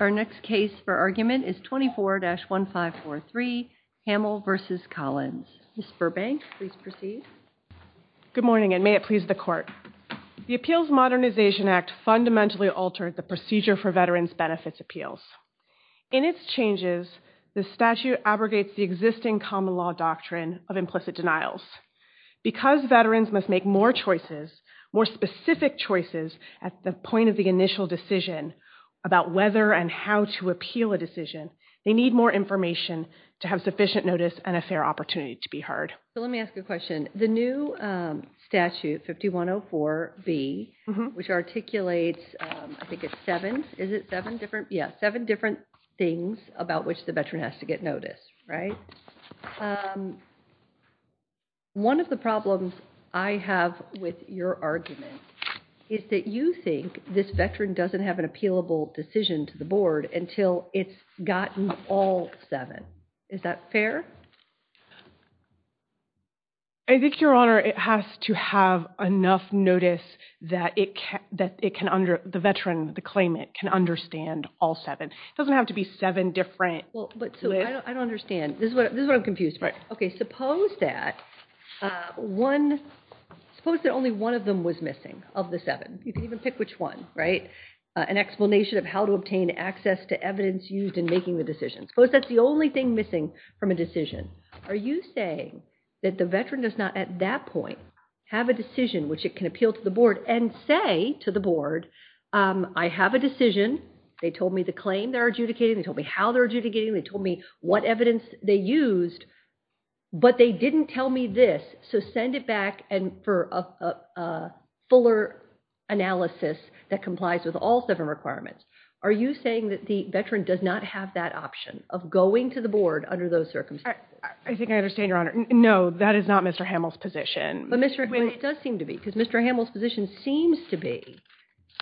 Our next case for argument is 24-1543, Hamill v. Collins. Ms. Burbank, please proceed. Good morning and may it please the Court. The Appeals Modernization Act fundamentally altered the procedure for Veterans' Benefits Appeals. In its changes, the statute abrogates the existing common law doctrine of implicit denials. Because veterans must make more choices, more specific choices, at the point of the initial decision about whether and how to appeal a decision, they need more information to have sufficient notice and a fair opportunity to be heard. So let me ask you a question. The new statute, 5104B, which articulates, I think it's seven, is it seven different? Yeah, seven different things about which the veteran has to get notice, right? One of the problems I have with your argument is that you think this veteran doesn't have an appealable decision to the Board until it's gotten all seven. Is that fair? I think, Your Honor, it has to have enough notice that the veteran, the claimant, can understand all seven. It doesn't have to be seven different. I don't understand. This is what I'm confused about. Suppose that only one of them was missing, of the seven. You can even pick which one, an explanation of how to obtain access to evidence used in making the decision. Suppose that's the only thing missing from a decision. Are you saying that the veteran does not, at that point, have a decision which it can appeal to the Board and say to the Board, I have a decision. They told me the claim they're adjudicating. They told me how they're adjudicating. They told me what evidence they used, but they didn't tell me this, so send it back for a fuller analysis that complies with all seven requirements. Are you saying that the veteran does not have that option of going to the Board under those circumstances? I think I understand, Your Honor. No, that is not Mr. Hamill's position. But, Ms. McGuinn, it does seem to be, because Mr. Hamill's position seems to be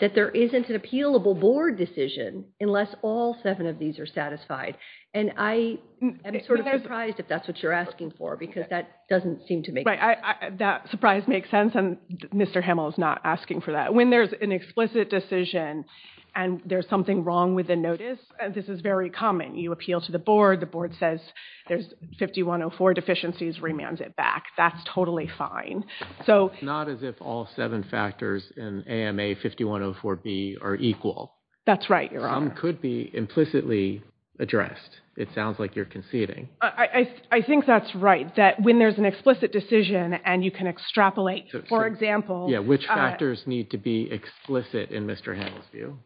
that there isn't an appealable Board decision unless all seven of these are satisfied. And I am sort of surprised if that's what you're asking for, because that doesn't seem to make sense. That surprise makes sense, and Mr. Hamill is not asking for that. When there's an explicit decision and there's something wrong with the notice, this is very common. You appeal to the Board. The Board says there's 5104 deficiencies, remands it back. That's totally fine. It's not as if all seven factors in AMA 5104B are equal. That's right, Your Honor. Some could be implicitly addressed. It sounds like you're conceding. I think that's right, that when there's an explicit decision and you can extrapolate, for example. Yeah, which factors need to be explicit in Mr. Hamill's view?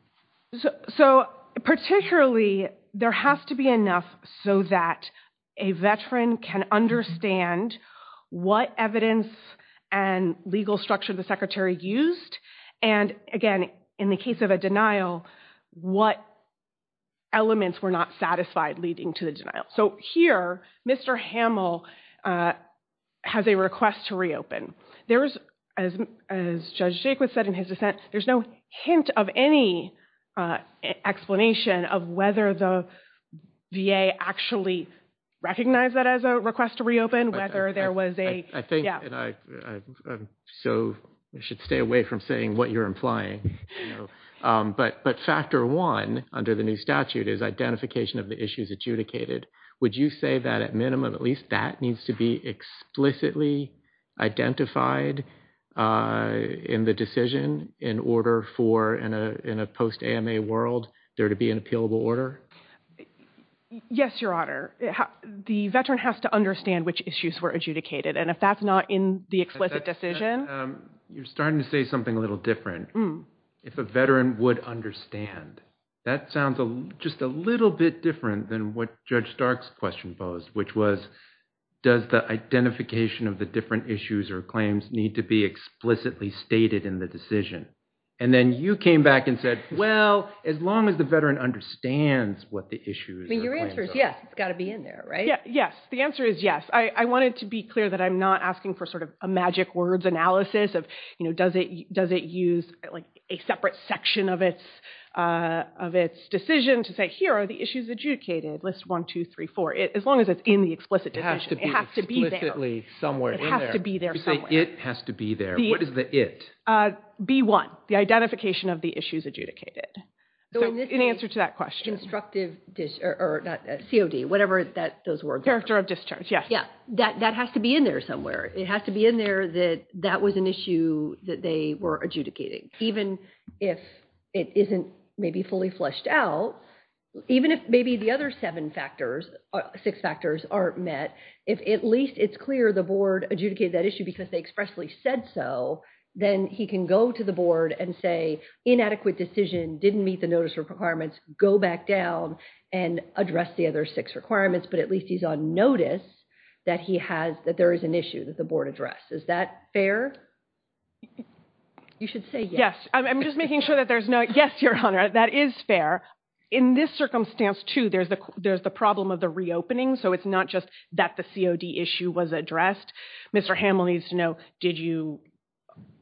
So particularly, there has to be enough so that a veteran can understand what evidence and legal structure the Secretary used, and again, in the case of a denial, what elements were not satisfied leading to the denial. So here, Mr. Hamill has a request to reopen. There is, as Judge Jacobs said in his dissent, there's no hint of any explanation of whether the VA actually recognized that as a request to reopen, whether there was a... I think, and I should stay away from saying what you're implying, but factor one under the new statute is identification of the issues adjudicated. Would you say that at minimum, at least that needs to be explicitly identified in the decision in order for, in a post-AMA world, there to be an appealable order? Yes, Your Honor. The veteran has to understand which issues were adjudicated, and if that's not in the explicit decision... You're starting to say something a little different. If a veteran would understand, that sounds just a little bit different than what Judge Stark's question posed, which was, does the identification of the different issues or claims need to be explicitly stated in the decision? And then you came back and said, well, as long as the veteran understands what the issues... I mean, your answer is yes. It's got to be in there, right? Yes. The answer is yes. I wanted to be clear that I'm not asking for sort of a magic words analysis of, you know, does it use a separate section of its decision to say, here are the issues adjudicated, list 1, 2, 3, 4, as long as it's in the explicit decision. It has to be there. It has to be explicitly somewhere in there. It has to be there somewhere. You say, it has to be there. What is the it? B1, the identification of the issues adjudicated. So in answer to that question... So in this constructive, or not, COD, whatever those words are. Director of discharge, yes. Yes. That has to be in there somewhere. It has to be in there that that was an issue that they were adjudicating. Even if it isn't maybe fully fleshed out, even if maybe the other seven factors, six factors aren't met, if at least it's clear the board adjudicated that issue because they expressly said so, then he can go to the board and say, inadequate decision, didn't meet the notice requirements, go back down and address the other six requirements, but at least notice that he has, that there is an issue that the board addressed. Is that fair? You should say yes. I'm just making sure that there's no... Yes, Your Honor, that is fair. In this circumstance, too, there's the problem of the reopening. So it's not just that the COD issue was addressed. Mr. Hamill needs to know, did you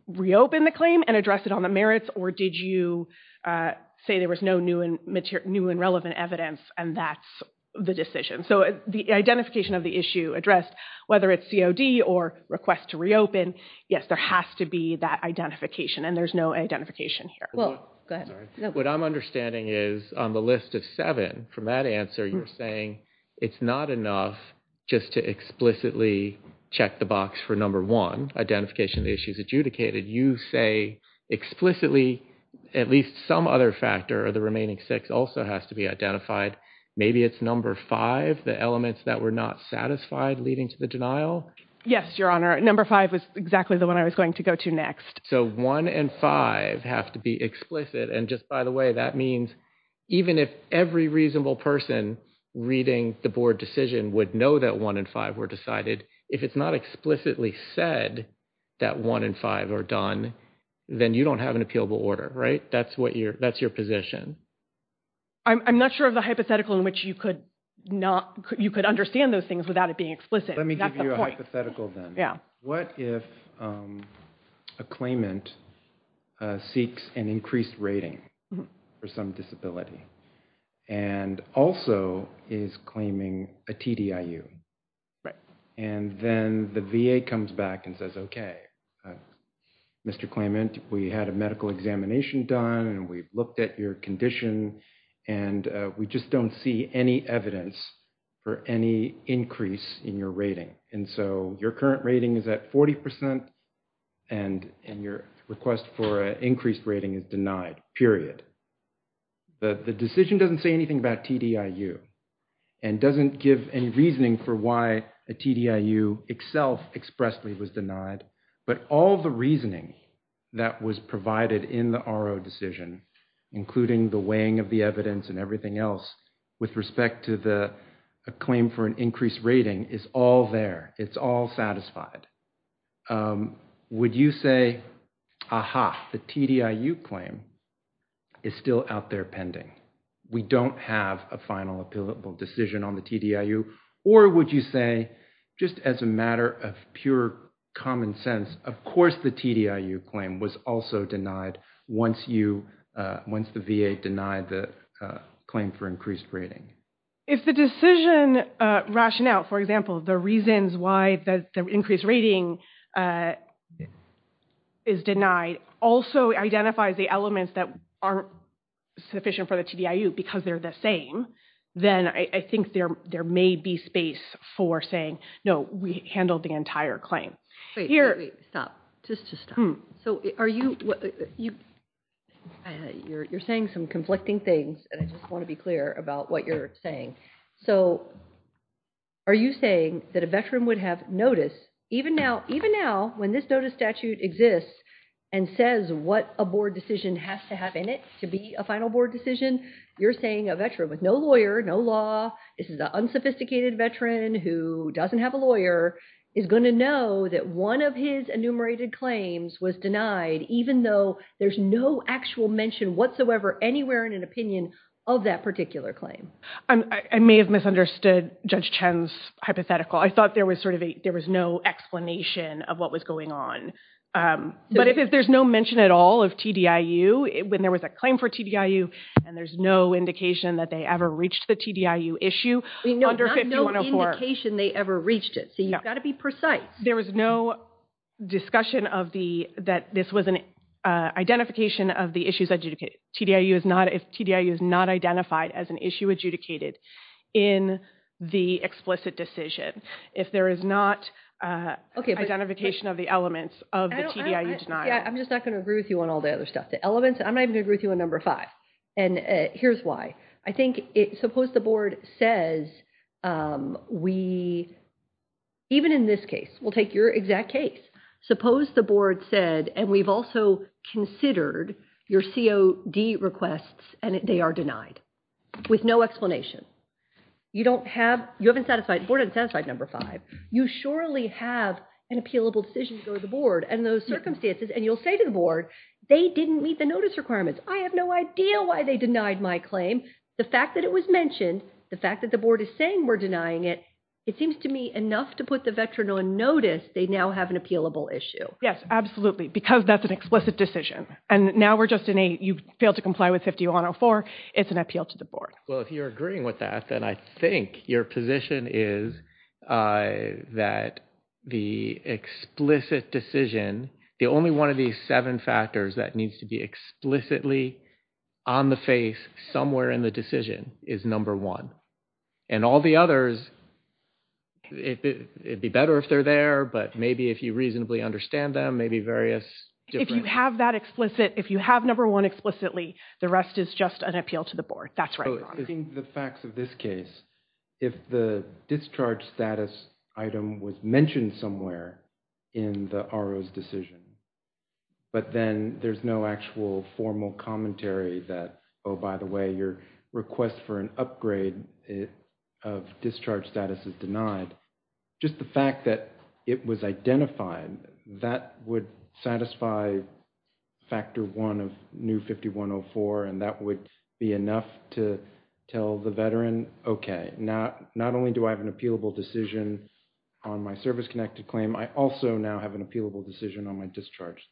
reopen the claim and address it on the merits, or did you say there was no new and relevant evidence and that's the decision? So the identification of the issue addressed, whether it's COD or request to reopen, yes, there has to be that identification, and there's no identification here. What I'm understanding is on the list of seven, from that answer, you're saying it's not enough just to explicitly check the box for number one, identification of the issues adjudicated. You say explicitly at least some other factor of the remaining six also has to be identified. Maybe it's number five, the elements that were not satisfied leading to the denial? Yes, Your Honor, number five was exactly the one I was going to go to next. So one and five have to be explicit. And just by the way, that means even if every reasonable person reading the board decision would know that one and five were decided, if it's not explicitly said that one and five are done, then you don't have an appealable order, right? That's your position. I'm not sure of the hypothetical in which you could understand those things without it being explicit. Let me give you a hypothetical then. What if a claimant seeks an increased rating for some disability and also is claiming a TDIU? Right. And then the VA comes back and says, okay, Mr. Claimant, we had a medical examination done and we've looked at your condition and we just don't see any evidence for any increase in your rating. And so your current rating is at 40% and your request for an increased rating is denied, period. The decision doesn't say anything about TDIU and doesn't give any reasoning for why a TDIU itself expressly was denied, but all the reasoning that was provided in the RO decision, including the weighing of the evidence and everything else with respect to the claim for an increased rating is all there. It's all satisfied. Would you say, aha, the TDIU claim is still out there pending? We don't have a final decision on the TDIU, or would you say, just as a matter of pure common sense, of course the TDIU claim was also denied once the VA denied the claim for increased rating? If the decision rationale, for example, the reasons why the increased rating is denied also identifies the elements that aren't sufficient for the TDIU because they're the same, then I think there may be space for saying, no, we handled the entire claim. Wait, wait, wait, stop. Just to stop. So are you, you're saying some conflicting things and I just want to be clear about what you're saying. So are you saying that a veteran would have notice, even now, even now when this notice statute exists and says what a board decision has to have in it to be a final board decision, you're saying a veteran with no lawyer, no law, this is an unsophisticated veteran who doesn't have a lawyer, is going to know that one of his enumerated claims was denied even though there's no actual mention whatsoever anywhere in an opinion of that particular claim? I may have misunderstood Judge Chen's hypothetical. I thought there was sort of a, there was no explanation of what was going on. But if there's no mention at all of TDIU, when there was a claim for TDIU and there's no indication that they ever reached the TDIU issue under 5104. Not no indication they ever reached it. So you've got to be precise. There was no discussion of the, that this was an identification of the issues that TDIU is not, if TDIU is not identified as an issue adjudicated in the explicit decision. If there is not identification of the elements of the TDIU denial. Yeah, I'm just not going to agree with you on all the other stuff. The elements, I'm not even going to agree with you on number five. And here's why. I think it, suppose the board says we, even in this case, we'll take your exact case. Suppose the board said, and we've also considered your COD requests and they are denied. With no explanation. You don't have, you haven't satisfied, the board hasn't satisfied number five. You surely have an appealable decision to go to the board and those circumstances, and you'll say to the board, they didn't meet the notice requirements. I have no idea why they denied my claim. The fact that it was mentioned, the fact that the board is saying we're denying it, it seems to me enough to put the veteran on notice, they now have an appealable issue. Yes, absolutely. Because that's an explicit decision. And now we're just in a, you fail to comply with 5104. It's an appeal to the board. Well, if you're agreeing with that, then I think your position is that the explicit decision, the only one of these seven factors that needs to be explicitly on the face somewhere in the decision is number one. And all the others, it'd be better if they're there, but maybe if you reasonably understand them, maybe various different. If you have that explicit, if you have number one explicitly, the rest is just an appeal to the board. That's right. In the facts of this case, if the discharge status item was mentioned somewhere in the RO's decision, but then there's no actual formal commentary that, oh, by the way, your request for an upgrade of discharge status is denied, just the fact that it was identified, that would satisfy factor one of new 5104. And that would be enough to tell the veteran, okay, not only do I have an appealable decision on my service-connected claim, I also now have an appealable decision on my discharge.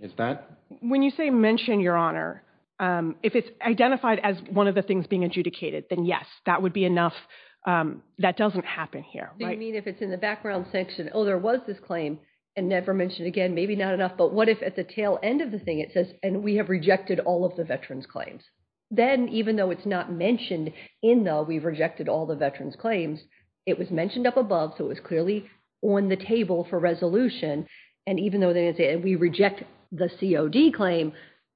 Is that? When you say mention, Your Honor, if it's identified as one of the things being adjudicated, then yes, that would be enough. That doesn't happen here. Do you mean if it's in the background section, oh, there was this claim and never mentioned again, maybe not enough, but what if at the tail end of the thing it says, and we have rejected all of the veterans' claims, then even though it's not mentioned in the we've rejected all the veterans' claims, it was mentioned up above, so it was clearly on the DOD claim,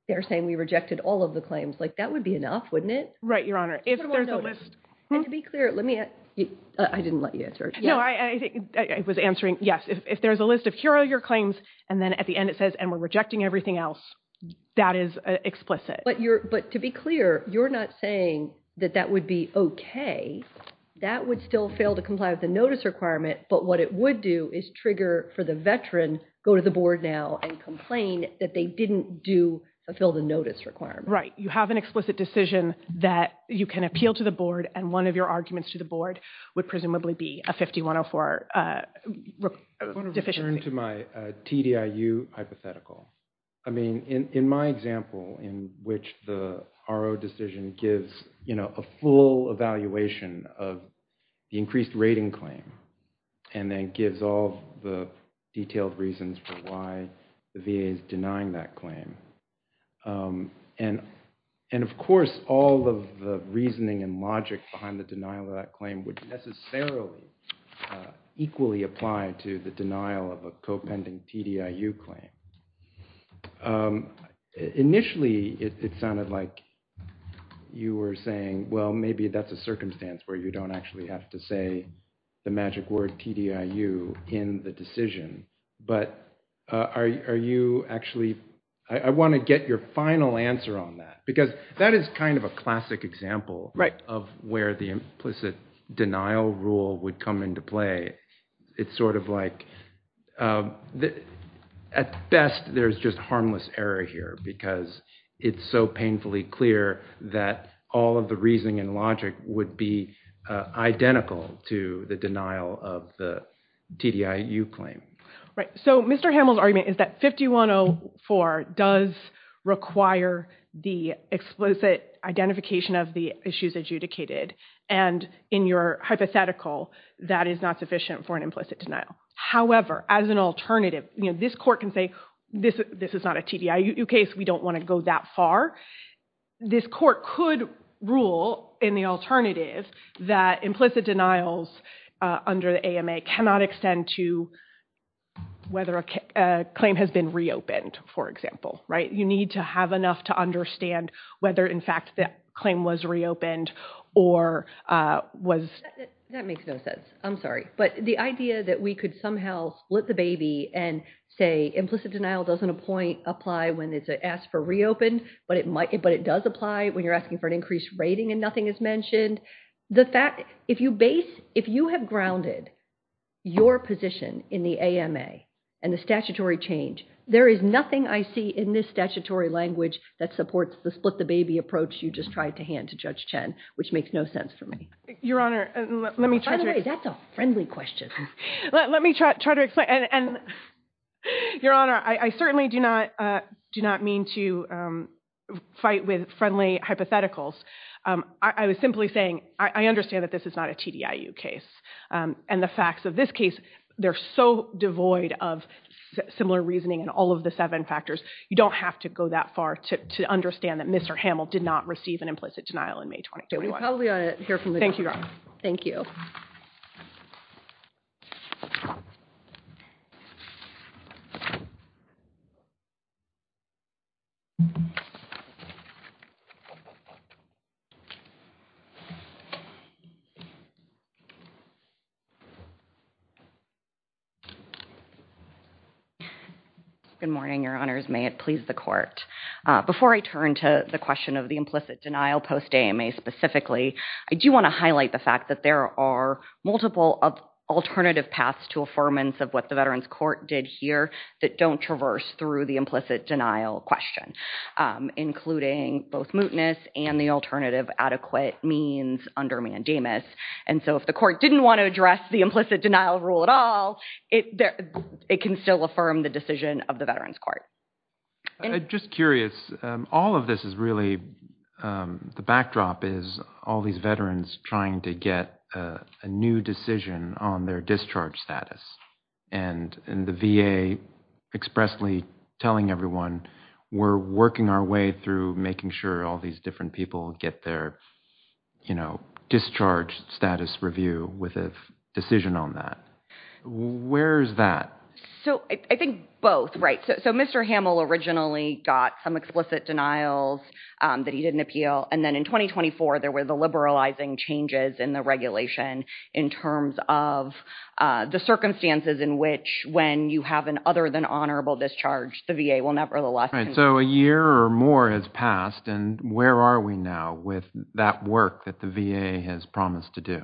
they're saying we rejected all of the claims, like that would be enough, wouldn't it? Right, Your Honor. If there's a list. And to be clear, let me, I didn't let you answer it. No, I was answering, yes, if there's a list of here are your claims, and then at the end it says, and we're rejecting everything else, that is explicit. But to be clear, you're not saying that that would be okay. That would still fail to comply with the notice requirement, but what it would do is trigger for the veteran, go to the board now and complain that they didn't do, fulfill the notice requirement. Right. You have an explicit decision that you can appeal to the board and one of your arguments to the board would presumably be a 5104 deficiency. I want to return to my TDIU hypothetical. I mean, in my example, in which the RO decision gives, you know, a full evaluation of the increased rating claim, and then gives all the detailed reasons for why the VA is denying that claim. And of course, all of the reasoning and logic behind the denial of that claim would necessarily equally apply to the denial of a co-pending TDIU claim. Initially it sounded like you were saying, well, maybe that's a circumstance where you don't actually have to say the magic word TDIU in the decision. But are you actually, I want to get your final answer on that because that is kind of a classic example of where the implicit denial rule would come into play. It's sort of like, at best, there's just harmless error here because it's so painfully clear that all of the reasoning and logic would be identical to the denial of the TDIU claim. Right. So, Mr. Hamill's argument is that 5104 does require the explicit identification of the issues adjudicated, and in your hypothetical, that is not sufficient for an implicit denial. However, as an alternative, you know, this court can say, this is not a TDIU case. We don't want to go that far. This court could rule, in the alternative, that implicit denials under the AMA cannot extend to whether a claim has been reopened, for example, right? You need to have enough to understand whether, in fact, that claim was reopened or was... That makes no sense. I'm sorry. But the idea that we could somehow split the baby and say implicit denial doesn't apply when it's asked for reopened, but it does apply when you're asking for an increased rating and nothing is mentioned. The fact... If you base... If you have grounded your position in the AMA and the statutory change, there is nothing I see in this statutory language that supports the split the baby approach you just tried to hand to Judge Chen, which makes no sense for me. Your Honor, let me... By the way, that's a friendly question. Let me try to explain. Your Honor, I certainly do not mean to fight with friendly hypotheticals. I was simply saying, I understand that this is not a TDIU case. And the facts of this case, they're so devoid of similar reasoning in all of the seven factors, you don't have to go that far to understand that Mr. Hamill did not receive an implicit denial in May 2021. We probably ought to hear from the judge. Thank you. Good morning, Your Honors. May it please the court. Before I turn to the question of the implicit denial post-AMA specifically, I do want to highlight the fact that there are multiple alternative paths to affirmance of what the Veterans Court did here that don't traverse through the implicit denial question, including both mootness and the alternative adequate means under mandamus. And so if the court didn't want to address the implicit denial rule at all, it can still affirm the decision of the Veterans Court. I'm just curious, all of this is really, the backdrop is all these veterans trying to get a new decision on their discharge status. And the VA expressly telling everyone, we're working our way through making sure all these different people get their, you know, discharge status review with a decision on that. Where's that? So, I think both, right? So, Mr. Hamill originally got some explicit denials that he didn't appeal. And then in 2024, there were the liberalizing changes in the regulation in terms of the circumstances in which when you have an other than honorable discharge, the VA will nevertheless Right. So, a year or more has passed and where are we now with that work that the VA has promised to do?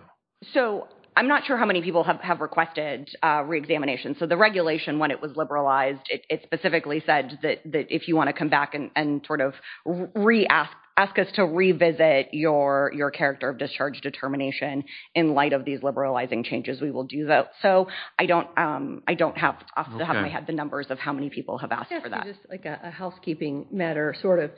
So, I'm not sure how many people have requested reexamination. So, the regulation when it was liberalized, it specifically said that if you want to come back and sort of ask us to revisit your character of discharge determination in light of these liberalizing changes, we will do that. So, I don't have off the top of my head the numbers of how many people have asked for that. Just like a housekeeping matter, sort of.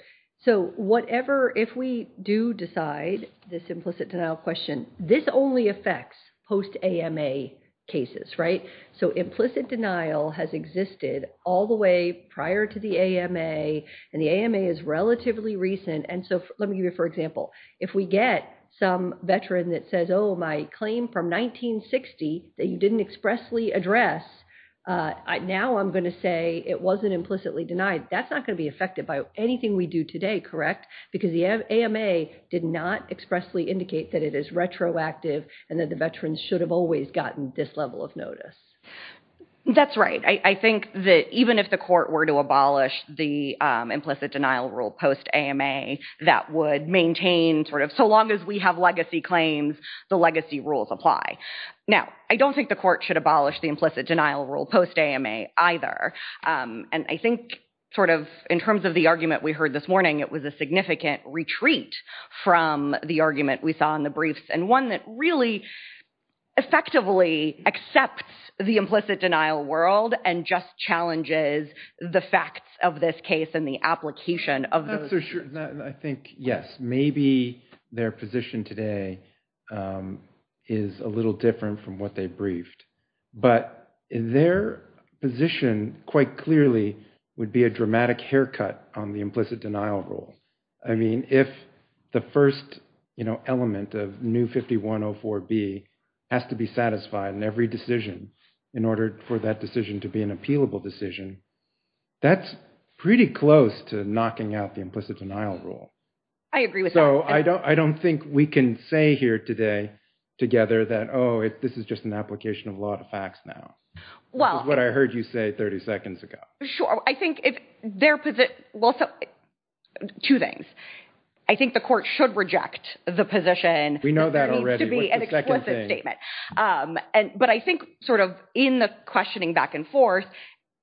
So, whatever, if we do decide this implicit denial question, this only affects post-AMA cases, right? So, implicit denial has existed all the way prior to the AMA and the AMA is relatively recent and so, let me give you, for example, if we get some veteran that says, oh, my claim from 1960 that you didn't expressly address, now I'm going to say it wasn't implicitly That's not going to be affected by anything we do today, correct? Because the AMA did not expressly indicate that it is retroactive and that the veterans should have always gotten this level of notice. That's right. I think that even if the court were to abolish the implicit denial rule post-AMA, that would maintain sort of, so long as we have legacy claims, the legacy rules apply. Now, I don't think the court should abolish the implicit denial rule post-AMA either and I think sort of, in terms of the argument we heard this morning, it was a significant retreat from the argument we saw in the briefs and one that really effectively accepts the implicit denial world and just challenges the facts of this case and the application of those. That's for sure. I think, yes, maybe their position today is a little different from what they briefed, but their position, quite clearly, would be a dramatic haircut on the implicit denial rule. I mean, if the first element of new 5104B has to be satisfied in every decision in order for that decision to be an appealable decision, that's pretty close to knocking out the implicit denial rule. I agree with that. So, I don't think we can say here today together that, oh, this is just an application of law to facts now. Well. It's what I heard you say 30 seconds ago. Sure. I think if their position, well, two things. I think the court should reject the position. We know that already. What's the second thing? But I think, sort of, in the questioning back and forth,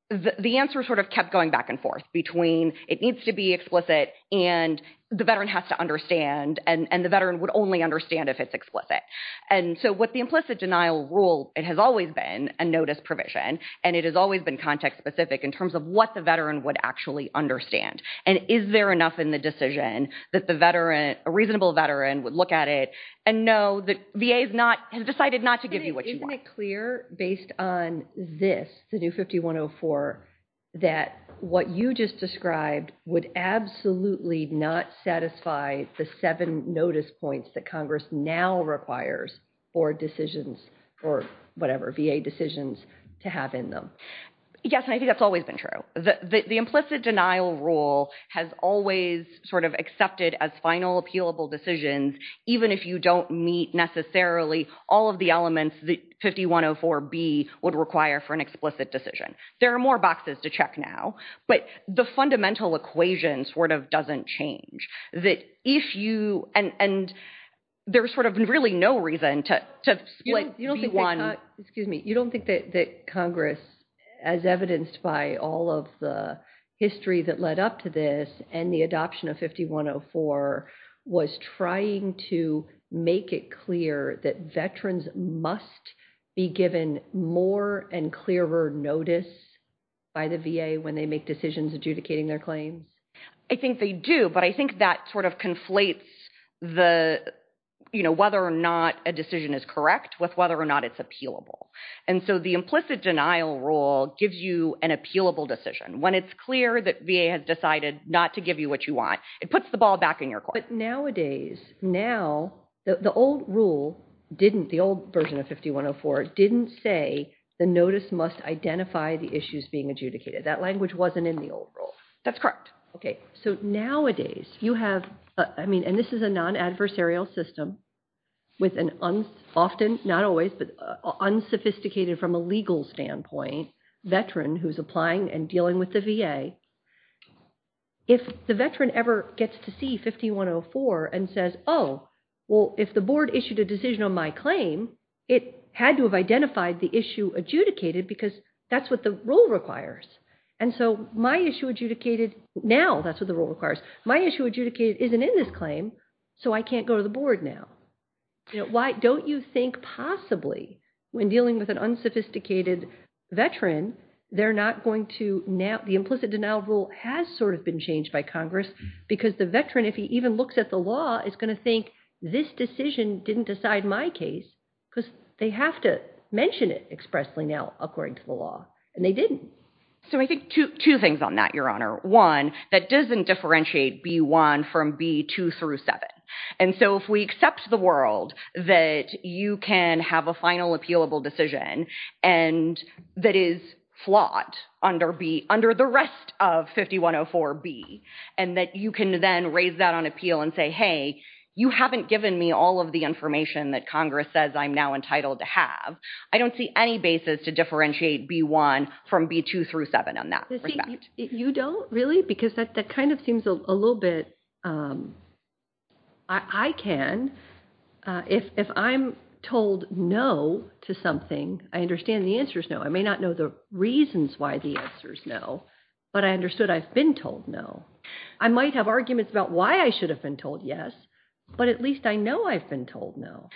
the answer sort of kept going back and forth between it needs to be explicit and the veteran has to understand and the veteran would only understand if it's explicit. And so, with the implicit denial rule, it has always been a notice provision and it has always been context specific in terms of what the veteran would actually understand. And is there enough in the decision that the veteran, a reasonable veteran, would look at it and know that VA has decided not to give you what you want? Isn't it clear based on this, the new 5104, that what you just described would absolutely not satisfy the seven notice points that Congress now requires for decisions or whatever, VA decisions to have in them? Yes, and I think that's always been true. The implicit denial rule has always sort of accepted as final appealable decisions, even if you don't meet necessarily all of the elements that 5104B would require for an explicit decision. There are more boxes to check now, but the fundamental equation sort of doesn't change. That if you, and there's sort of really no reason to split B1. You don't think that Congress, as evidenced by all of the history that led up to this and the adoption of 5104, was trying to make it clear that veterans must be given more and clearer notice by the VA when they make decisions adjudicating their claims? I think they do, but I think that sort of conflates whether or not a decision is correct with whether or not it's appealable. And so the implicit denial rule gives you an appealable decision. When it's clear that VA has decided not to give you what you want, it puts the ball back in your court. But nowadays, now, the old rule didn't, the old version of 5104, didn't say the notice must identify the issues being adjudicated. That language wasn't in the old rule. That's correct. Okay, so nowadays, you have, I mean, and this is a non-adversarial system with an often, not always, but unsophisticated from a legal standpoint, veteran who's applying and dealing with the VA. If the veteran ever gets to see 5104 and says, oh, well, if the board issued a decision on my claim, it had to have identified the issue adjudicated because that's what the rule requires. And so my issue adjudicated now, that's what the rule requires. My issue adjudicated isn't in this claim, so I can't go to the board now. Why don't you think possibly when dealing with an unsophisticated veteran, they're not going to now, the implicit denial rule has sort of been changed by Congress because the veteran, if he even looks at the law, is going to think this decision didn't decide my case because they have to mention it expressly now, according to the law, and they didn't. So I think two things on that, Your Honor. One, that doesn't differentiate B-1 from B-2 through 7. And so if we accept the world that you can have a final appealable decision and that is flawed under the rest of 5104-B, and that you can then raise that on appeal and say, hey, you haven't given me all of the information that Congress says I'm now entitled to have, I don't see any basis to differentiate B-1 from B-2 through 7 on that. You don't really? Because that kind of seems a little bit, I can. If I'm told no to something, I understand the answer is no. I may not know the reasons why the answer is no, but I understood I've been told no. I might have arguments about why I should have been told yes, but at least I know I've been told no.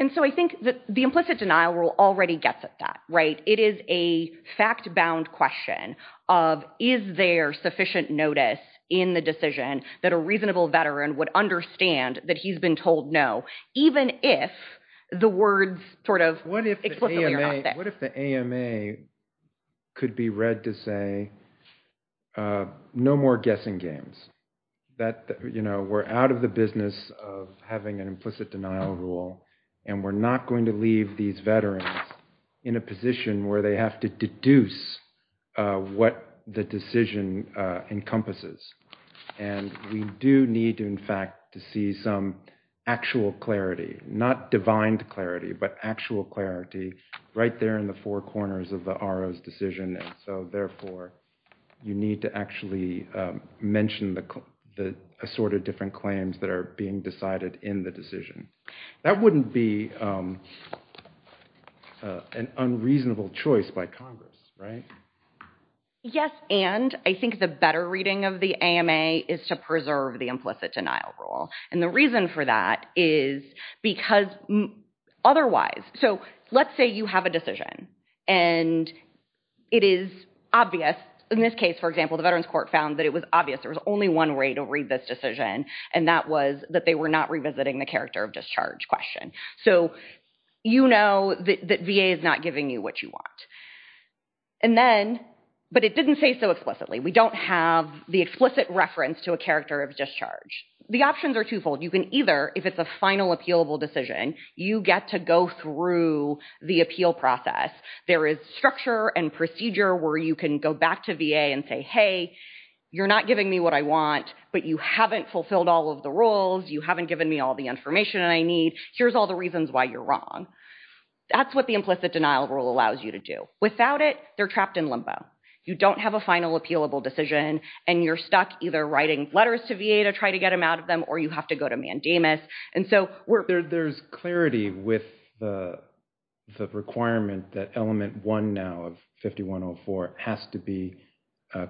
And so I think that the implicit denial rule already gets at that, right? It is a fact-bound question of, is there sufficient notice in the decision that a reasonable veteran would understand that he's been told no, even if the words sort of explicitly are not there? What if the AMA could be read to say, no more guessing games. That we're out of the business of having an implicit denial rule, and we're not going to leave these veterans in a position where they have to deduce what the decision encompasses. And we do need, in fact, to see some actual clarity, not divine clarity, but actual clarity right there in the four corners of the RO's decision. So therefore, you need to actually mention the assorted different claims that are being decided in the decision. That wouldn't be an unreasonable choice by Congress, right? Yes, and I think the better reading of the AMA is to preserve the implicit denial rule. And the reason for that is because otherwise, so let's say you have a decision, and it is obvious in this case, for example, the Veterans Court found that it was obvious there was only one way to read this decision. And that was that they were not revisiting the character of discharge question. So you know that VA is not giving you what you want. And then, but it didn't say so explicitly. We don't have the explicit reference to a character of discharge. The options are twofold. You can either, if it's a final appealable decision, you get to go through the appeal process. There is structure and procedure where you can go back to VA and say, hey, you're not giving me what I want, but you haven't fulfilled all of the rules. You haven't given me all the information that I need. Here's all the reasons why you're wrong. That's what the implicit denial rule allows you to do. Without it, they're trapped in limbo. You don't have a final appealable decision. And you're stuck either writing letters to VA to try to get them out of them, or you have to go to mandamus. And so there's clarity with the requirement that element one now of 5104 has to be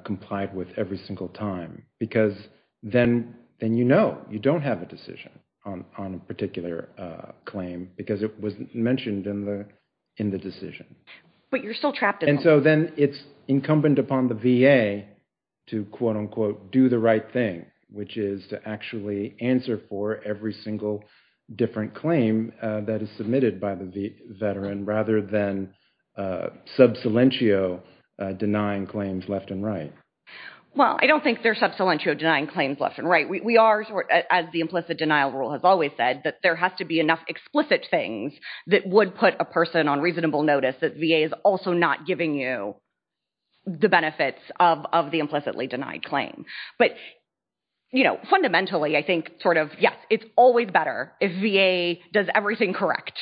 complied with every single time. Because then you know you don't have a decision on a particular claim, because it was mentioned in the decision. But you're still trapped in limbo. And so then it's incumbent upon the VA to, quote unquote, do the right thing, which is to actually answer for every single different claim that is submitted by the veteran, rather than sub salientio denying claims left and right. Well, I don't think they're sub salientio denying claims left and right. We are, as the implicit denial rule has always said, that there has to be enough explicit things that would put a person on reasonable notice that VA is also not giving you the benefits of the implicitly denied claim. But fundamentally, I think, yes, it's always better if VA does everything correct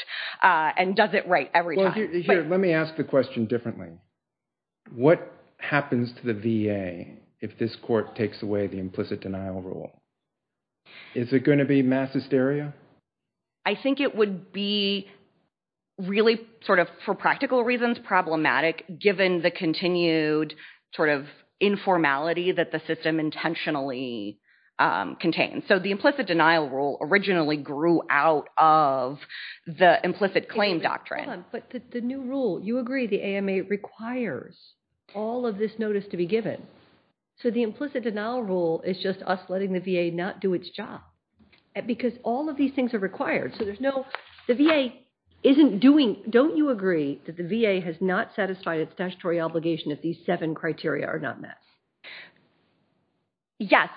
and does it right every time. Well, here, let me ask the question differently. What happens to the VA if this court takes away the implicit denial rule? Is it going to be mass hysteria? I think it would be really, for practical reasons, problematic, given the continued sort of informality that the system intentionally contains. So the implicit denial rule originally grew out of the implicit claim doctrine. But the new rule, you agree the AMA requires all of this notice to be given. So the implicit denial rule is just us letting the VA not do its job. Because all of these things are required. The VA isn't doing... Don't you agree that the VA has not satisfied its statutory obligation if these seven criteria are not met? Yes,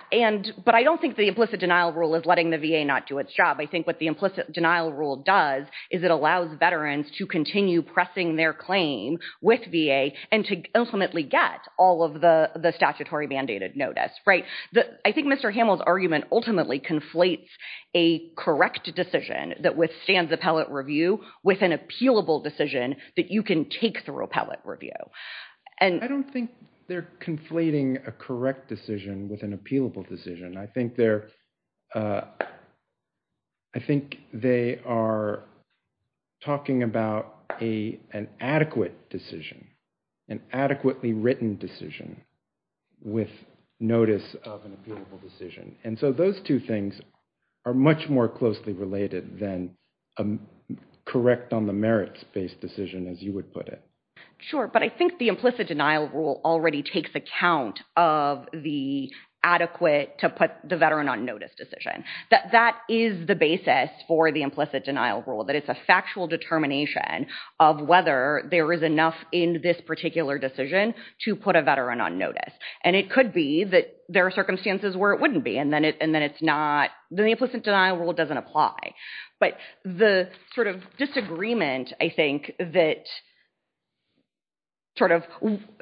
but I don't think the implicit denial rule is letting the VA not do its job. I think what the implicit denial rule does is it allows veterans to continue pressing their claim with VA and to ultimately get all of the statutory mandated notice. I think Mr. Hamill's argument ultimately conflates a correct decision that withstands appellate review with an appealable decision that you can take through appellate review. I don't think they're conflating a correct decision with an appealable decision. I think they are talking about an adequate decision, an adequately written decision with notice of an appealable decision. And so those two things are much more closely related than a correct on the merits based decision, as you would put it. Sure, but I think the implicit denial rule already takes account of the adequate to put the veteran on notice decision. That is the basis for the implicit denial rule, that it's a factual determination of whether there is enough in this particular decision to put a veteran on notice. And it could be that there are circumstances where it wouldn't be, and then the implicit denial rule doesn't apply. But the sort of disagreement, I think, that sort of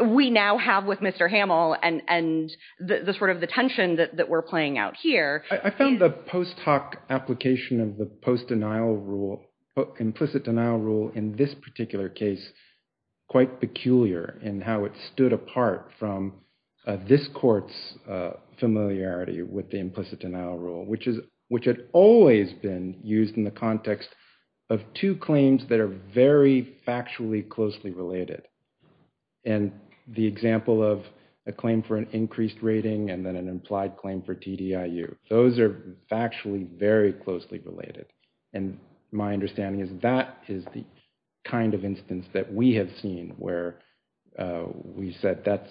we now have with Mr. Hamill and the sort of the tension that we're playing out here. I found the post hoc application of the post denial rule, implicit denial rule in this particular case, quite peculiar in how it stood apart from this court's familiarity with the implicit denial rule, which had always been used in the context of two claims that are very factually closely related. And the example of a claim for an increased rating and then an implied claim for TDIU. Those are factually very closely related. And my understanding is that is the kind of instance that we have seen where we said that's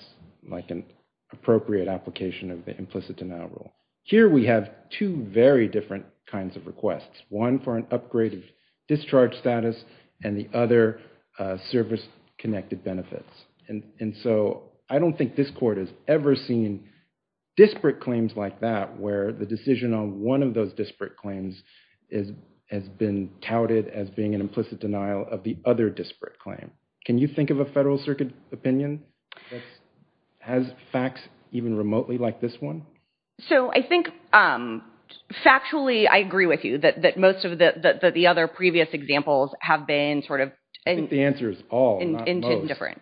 like an appropriate application of the implicit denial rule. Here we have two very different kinds of requests. One for an upgrade of discharge status and the other service connected benefits. And so I don't think this court has ever seen disparate claims like that where the decision on one of those disparate claims has been touted as being an implicit denial of the other disparate claim. Can you think of a federal circuit opinion that has facts even remotely like this one? So I think factually, I agree with you that most of the other previous examples have been sort of. I think the answer is all, not most. Into different.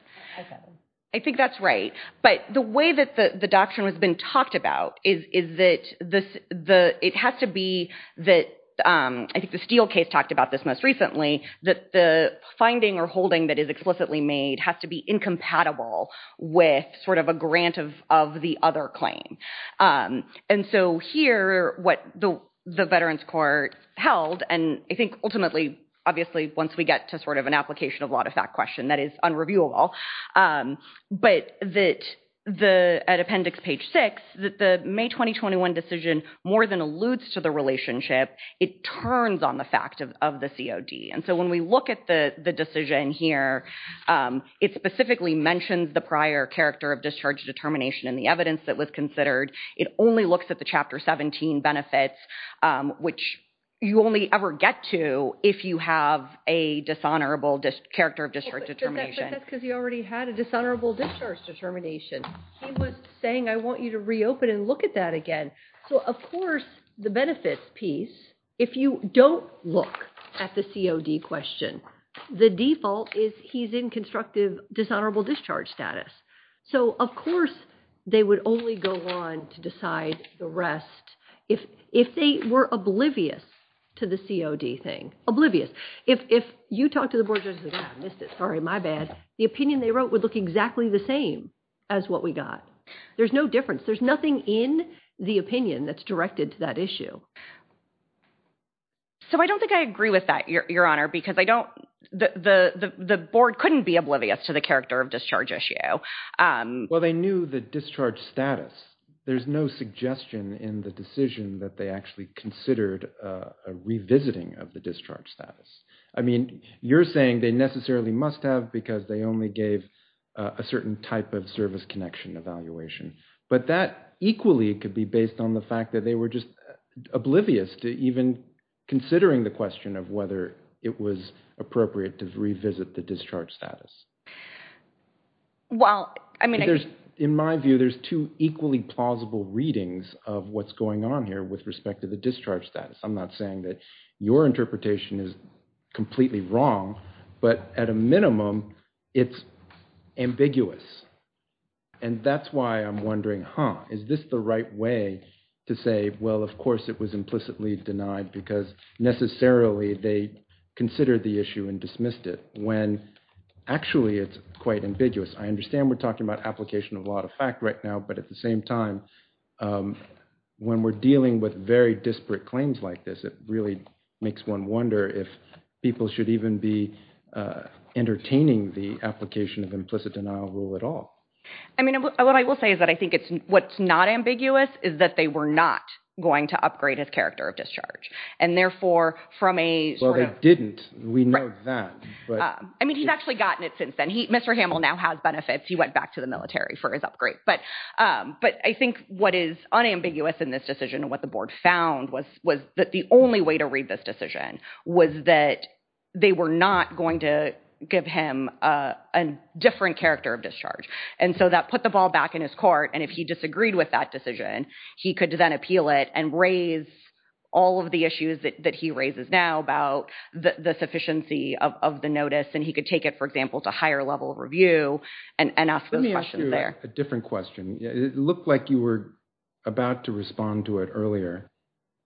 I think that's right. But the way that the doctrine has been talked about is that it has to be that. I think the Steele case talked about this most recently that the finding or holding that is explicitly made has to be incompatible with sort of a grant of the other claim. And so here, what the Veterans Court held, and I think ultimately, obviously, once we get to sort of an application of a lot of that question, that is unreviewable. But that the appendix page six, that the May 2021 decision more than alludes to the relationship, it turns on the fact of the COD. And so when we look at the decision here, it specifically mentions the prior character of discharge determination and the evidence that was considered. It only looks at the Chapter 17 benefits, which you only ever get to if you have a dishonorable character of discharge determination. That's because he already had a dishonorable discharge determination. He was saying, I want you to reopen and look at that again. So of course, the benefits piece, if you don't look at the COD question, the default is he's in constructive dishonorable discharge status. So of course, they would only go on to decide the rest if they were oblivious to the COD thing. Oblivious. If you talk to the board, sorry, my bad, the opinion they wrote would look exactly the same as what we got. There's no difference. There's nothing in the opinion that's directed to that issue. So I don't think I agree with that, Your Honor, because the board couldn't be oblivious to the character of discharge issue. Well, they knew the discharge status. There's no suggestion in the decision that they actually considered a revisiting of the discharge status. I mean, you're saying they necessarily must have, because they only gave a certain type of service connection evaluation. But that equally could be based on the fact that they were just oblivious to even considering the question of whether it was appropriate to revisit the discharge status. Well, I mean, In my view, there's two equally plausible readings of what's going on here with respect to the discharge status. I'm not saying that your interpretation is completely wrong, but at a minimum, it's ambiguous. And that's why I'm wondering, huh, is this the right way to say, well, of course it was implicitly denied because necessarily they considered the issue and dismissed it, when actually it's quite ambiguous. I understand we're talking about application of a lot of fact right now, but at the same time, when we're dealing with very disparate claims like this, it really makes one wonder if people should even be entertaining the application of implicit denial rule at all. I mean, what I will say is that I think it's, what's not ambiguous is that they were not going to upgrade his character of discharge. And therefore, from a- Well, they didn't. We know that. I mean, he's actually gotten it since then. Mr. Hamill now has benefits. He went back to the military for his upgrade. But I think what is unambiguous in this decision and what the board found was that the only way to read this decision was that they were not going to give him a different character of discharge. And so that put the ball back in his court. And if he disagreed with that decision, he could then appeal it and raise all of the issues that he raises now about the sufficiency of the notice. And he could take it, for example, to higher level review and ask those questions there. A different question. It looked like you were about to respond to it earlier.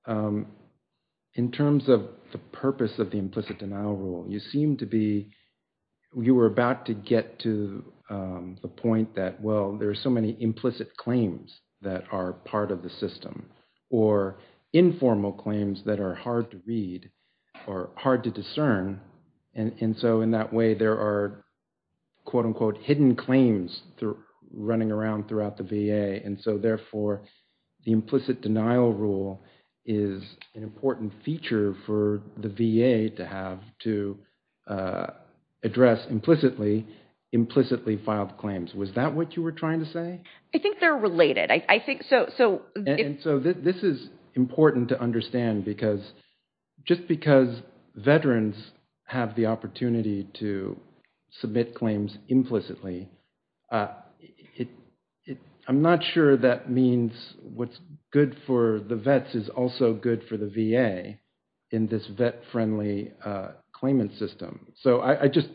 In terms of the purpose of the implicit denial rule, you seemed to be, you were about to get to the point that, well, there are so many implicit claims that are part of the system or informal claims that are hard to read or hard to discern. And so in that way, there are, quote unquote, hidden claims running around throughout the VA. And so therefore, the implicit denial rule is an important feature for the VA to have to address implicitly filed claims. Was that what you were trying to say? I think they're related. And so this is important to understand because, just because veterans have the opportunity to submit claims implicitly, I'm not sure that means what's good for the vets is also good for the VA in this vet-friendly claimant system. So I just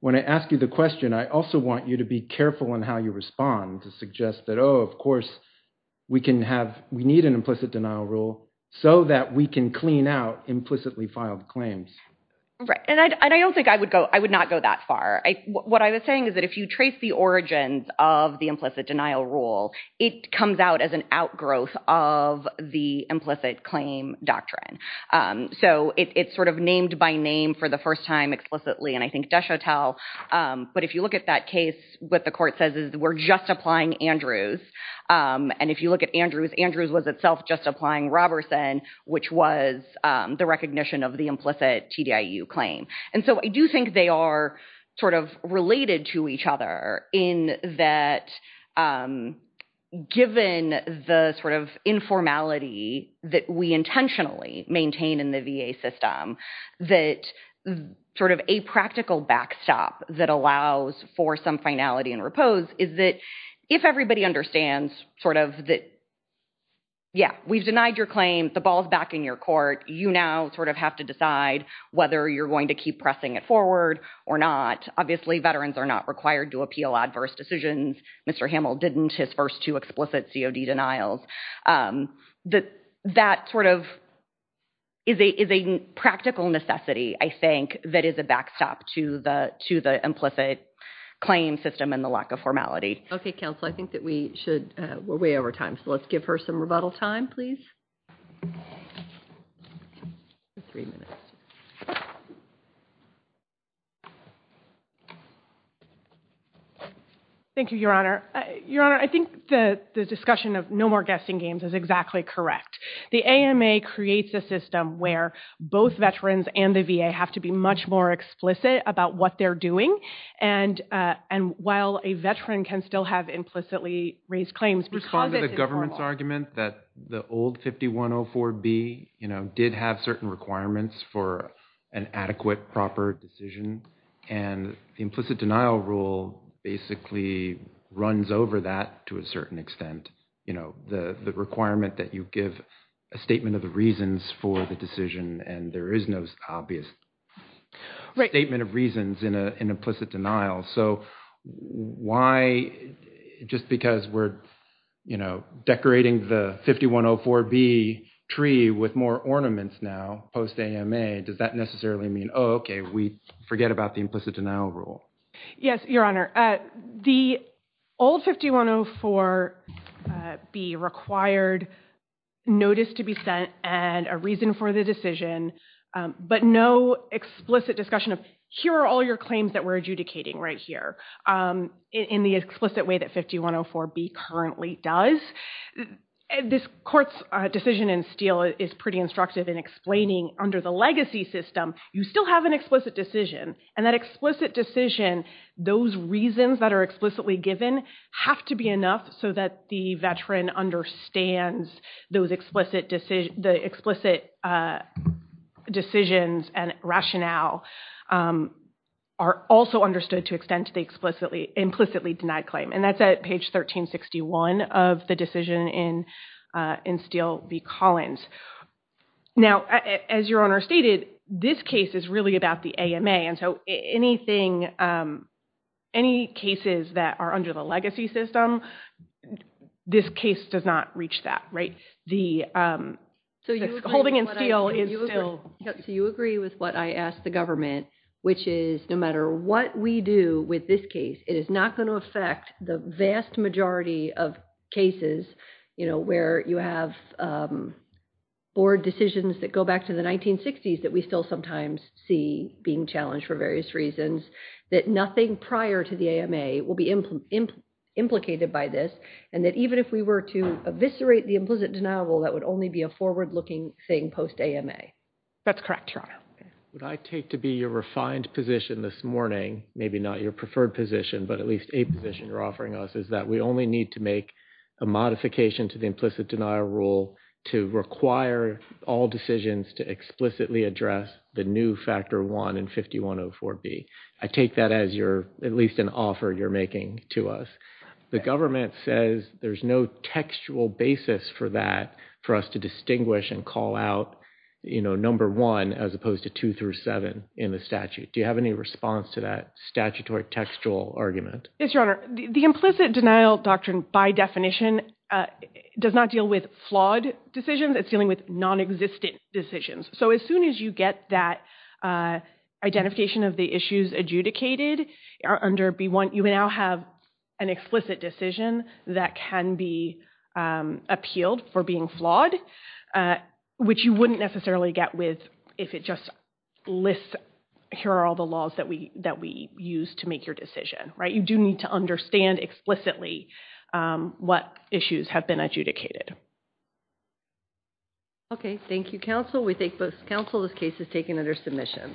want to ask you the question. I also want you to be careful in how you respond to suggest that, oh, of course, we can have, we need an implicit denial rule so that we can clean out implicitly filed claims. Right. And I don't think I would go, I would not go that far. What I was saying is that if you trace the origins of the implicit denial rule, it comes out as an outgrowth of the implicit claim doctrine. So it's sort of named by name for the first time explicitly. And I think Deshotel, but if you look at that case, what the court says is we're just applying Andrews. And if you look at Andrews, Andrews was itself just applying Roberson, which was the recognition of the implicit TDIU claim. And so I do think they are sort of related to each other in that, given the sort of informality that we intentionally maintain in the VA system, that sort of a practical backstop that allows for some finality and repose is that if everybody understands sort of that, yeah, we've denied your claim, the ball's back in your court, you now sort of have to decide whether you're going to keep pressing it forward or not. Obviously, veterans are not required to appeal adverse decisions. Mr. Hamill didn't, his first two explicit COD denials. That sort of is a practical necessity, I think, that is a backstop to the implicit claim system and the lack of formality. Okay, counsel, I think that we should, we're way over time. So let's give her some rebuttal time, please. Thank you, Your Honor. Your Honor, I think the discussion of no more guessing games is exactly correct. The AMA creates a system where both veterans and the VA have to be much more explicit about what they're doing. And while a veteran can still have implicitly raised claims, respond to the government's argument that the old 5104B, you know, did have certain requirements for an adequate, proper decision. And the implicit denial rule basically runs over that to a certain extent. You know, the requirement that you give a statement of the reasons for the decision, and there is no obvious statement of reasons in an implicit denial. So why, just because we're, you know, decorating the 5104B tree with more ornaments now, post-AMA, does that necessarily mean, oh, okay, we forget about the implicit denial rule? Yes, Your Honor, the old 5104B required notice to be sent and a reason for the decision, but no explicit discussion of, here are all your claims that we're adjudicating right here, in the explicit way that 5104B currently does. This court's decision in Steele is pretty instructive in explaining, under the legacy system, you still have an explicit decision. And that explicit decision, those reasons that are explicitly given have to be enough so that the veteran understands the explicit decisions and rationale are also understood to extend to the implicitly denied claim. And that's at page 1361 of the decision in Steele v. Collins. Now, as Your Honor stated, this case is really about the AMA. So anything, any cases that are under the legacy system, this case does not reach that, right? Holding in Steele is still... So you agree with what I asked the government, which is no matter what we do with this case, it is not going to affect the vast majority of cases, you know, where you have board decisions that go back to the 1960s that we still sometimes see being challenged for various reasons, that nothing prior to the AMA will be implicated by this, and that even if we were to eviscerate the implicit denial rule, that would only be a forward-looking thing post-AMA. That's correct, Your Honor. What I take to be your refined position this morning, maybe not your preferred position, but at least a position you're offering us, is that we only need to make a modification to the implicit denial rule to require all decisions to explicitly address the new factor 1 in 5104B. I take that as your, at least an offer you're making to us. The government says there's no textual basis for that, for us to distinguish and call out, you know, number 1 as opposed to 2 through 7 in the statute. Do you have any response to that statutory textual argument? Yes, Your Honor. The implicit denial doctrine, by definition, does not deal with flawed decisions. It's dealing with non-existent decisions. So as soon as you get that identification of the issues adjudicated under B1, you now have an explicit decision that can be appealed for being flawed, which you wouldn't necessarily get with if it just lists, here are all the laws that we use to make your decision, right? You do need to understand explicitly what issues have been adjudicated. Okay. Thank you, counsel. We thank both counsel. This case is taken under submission.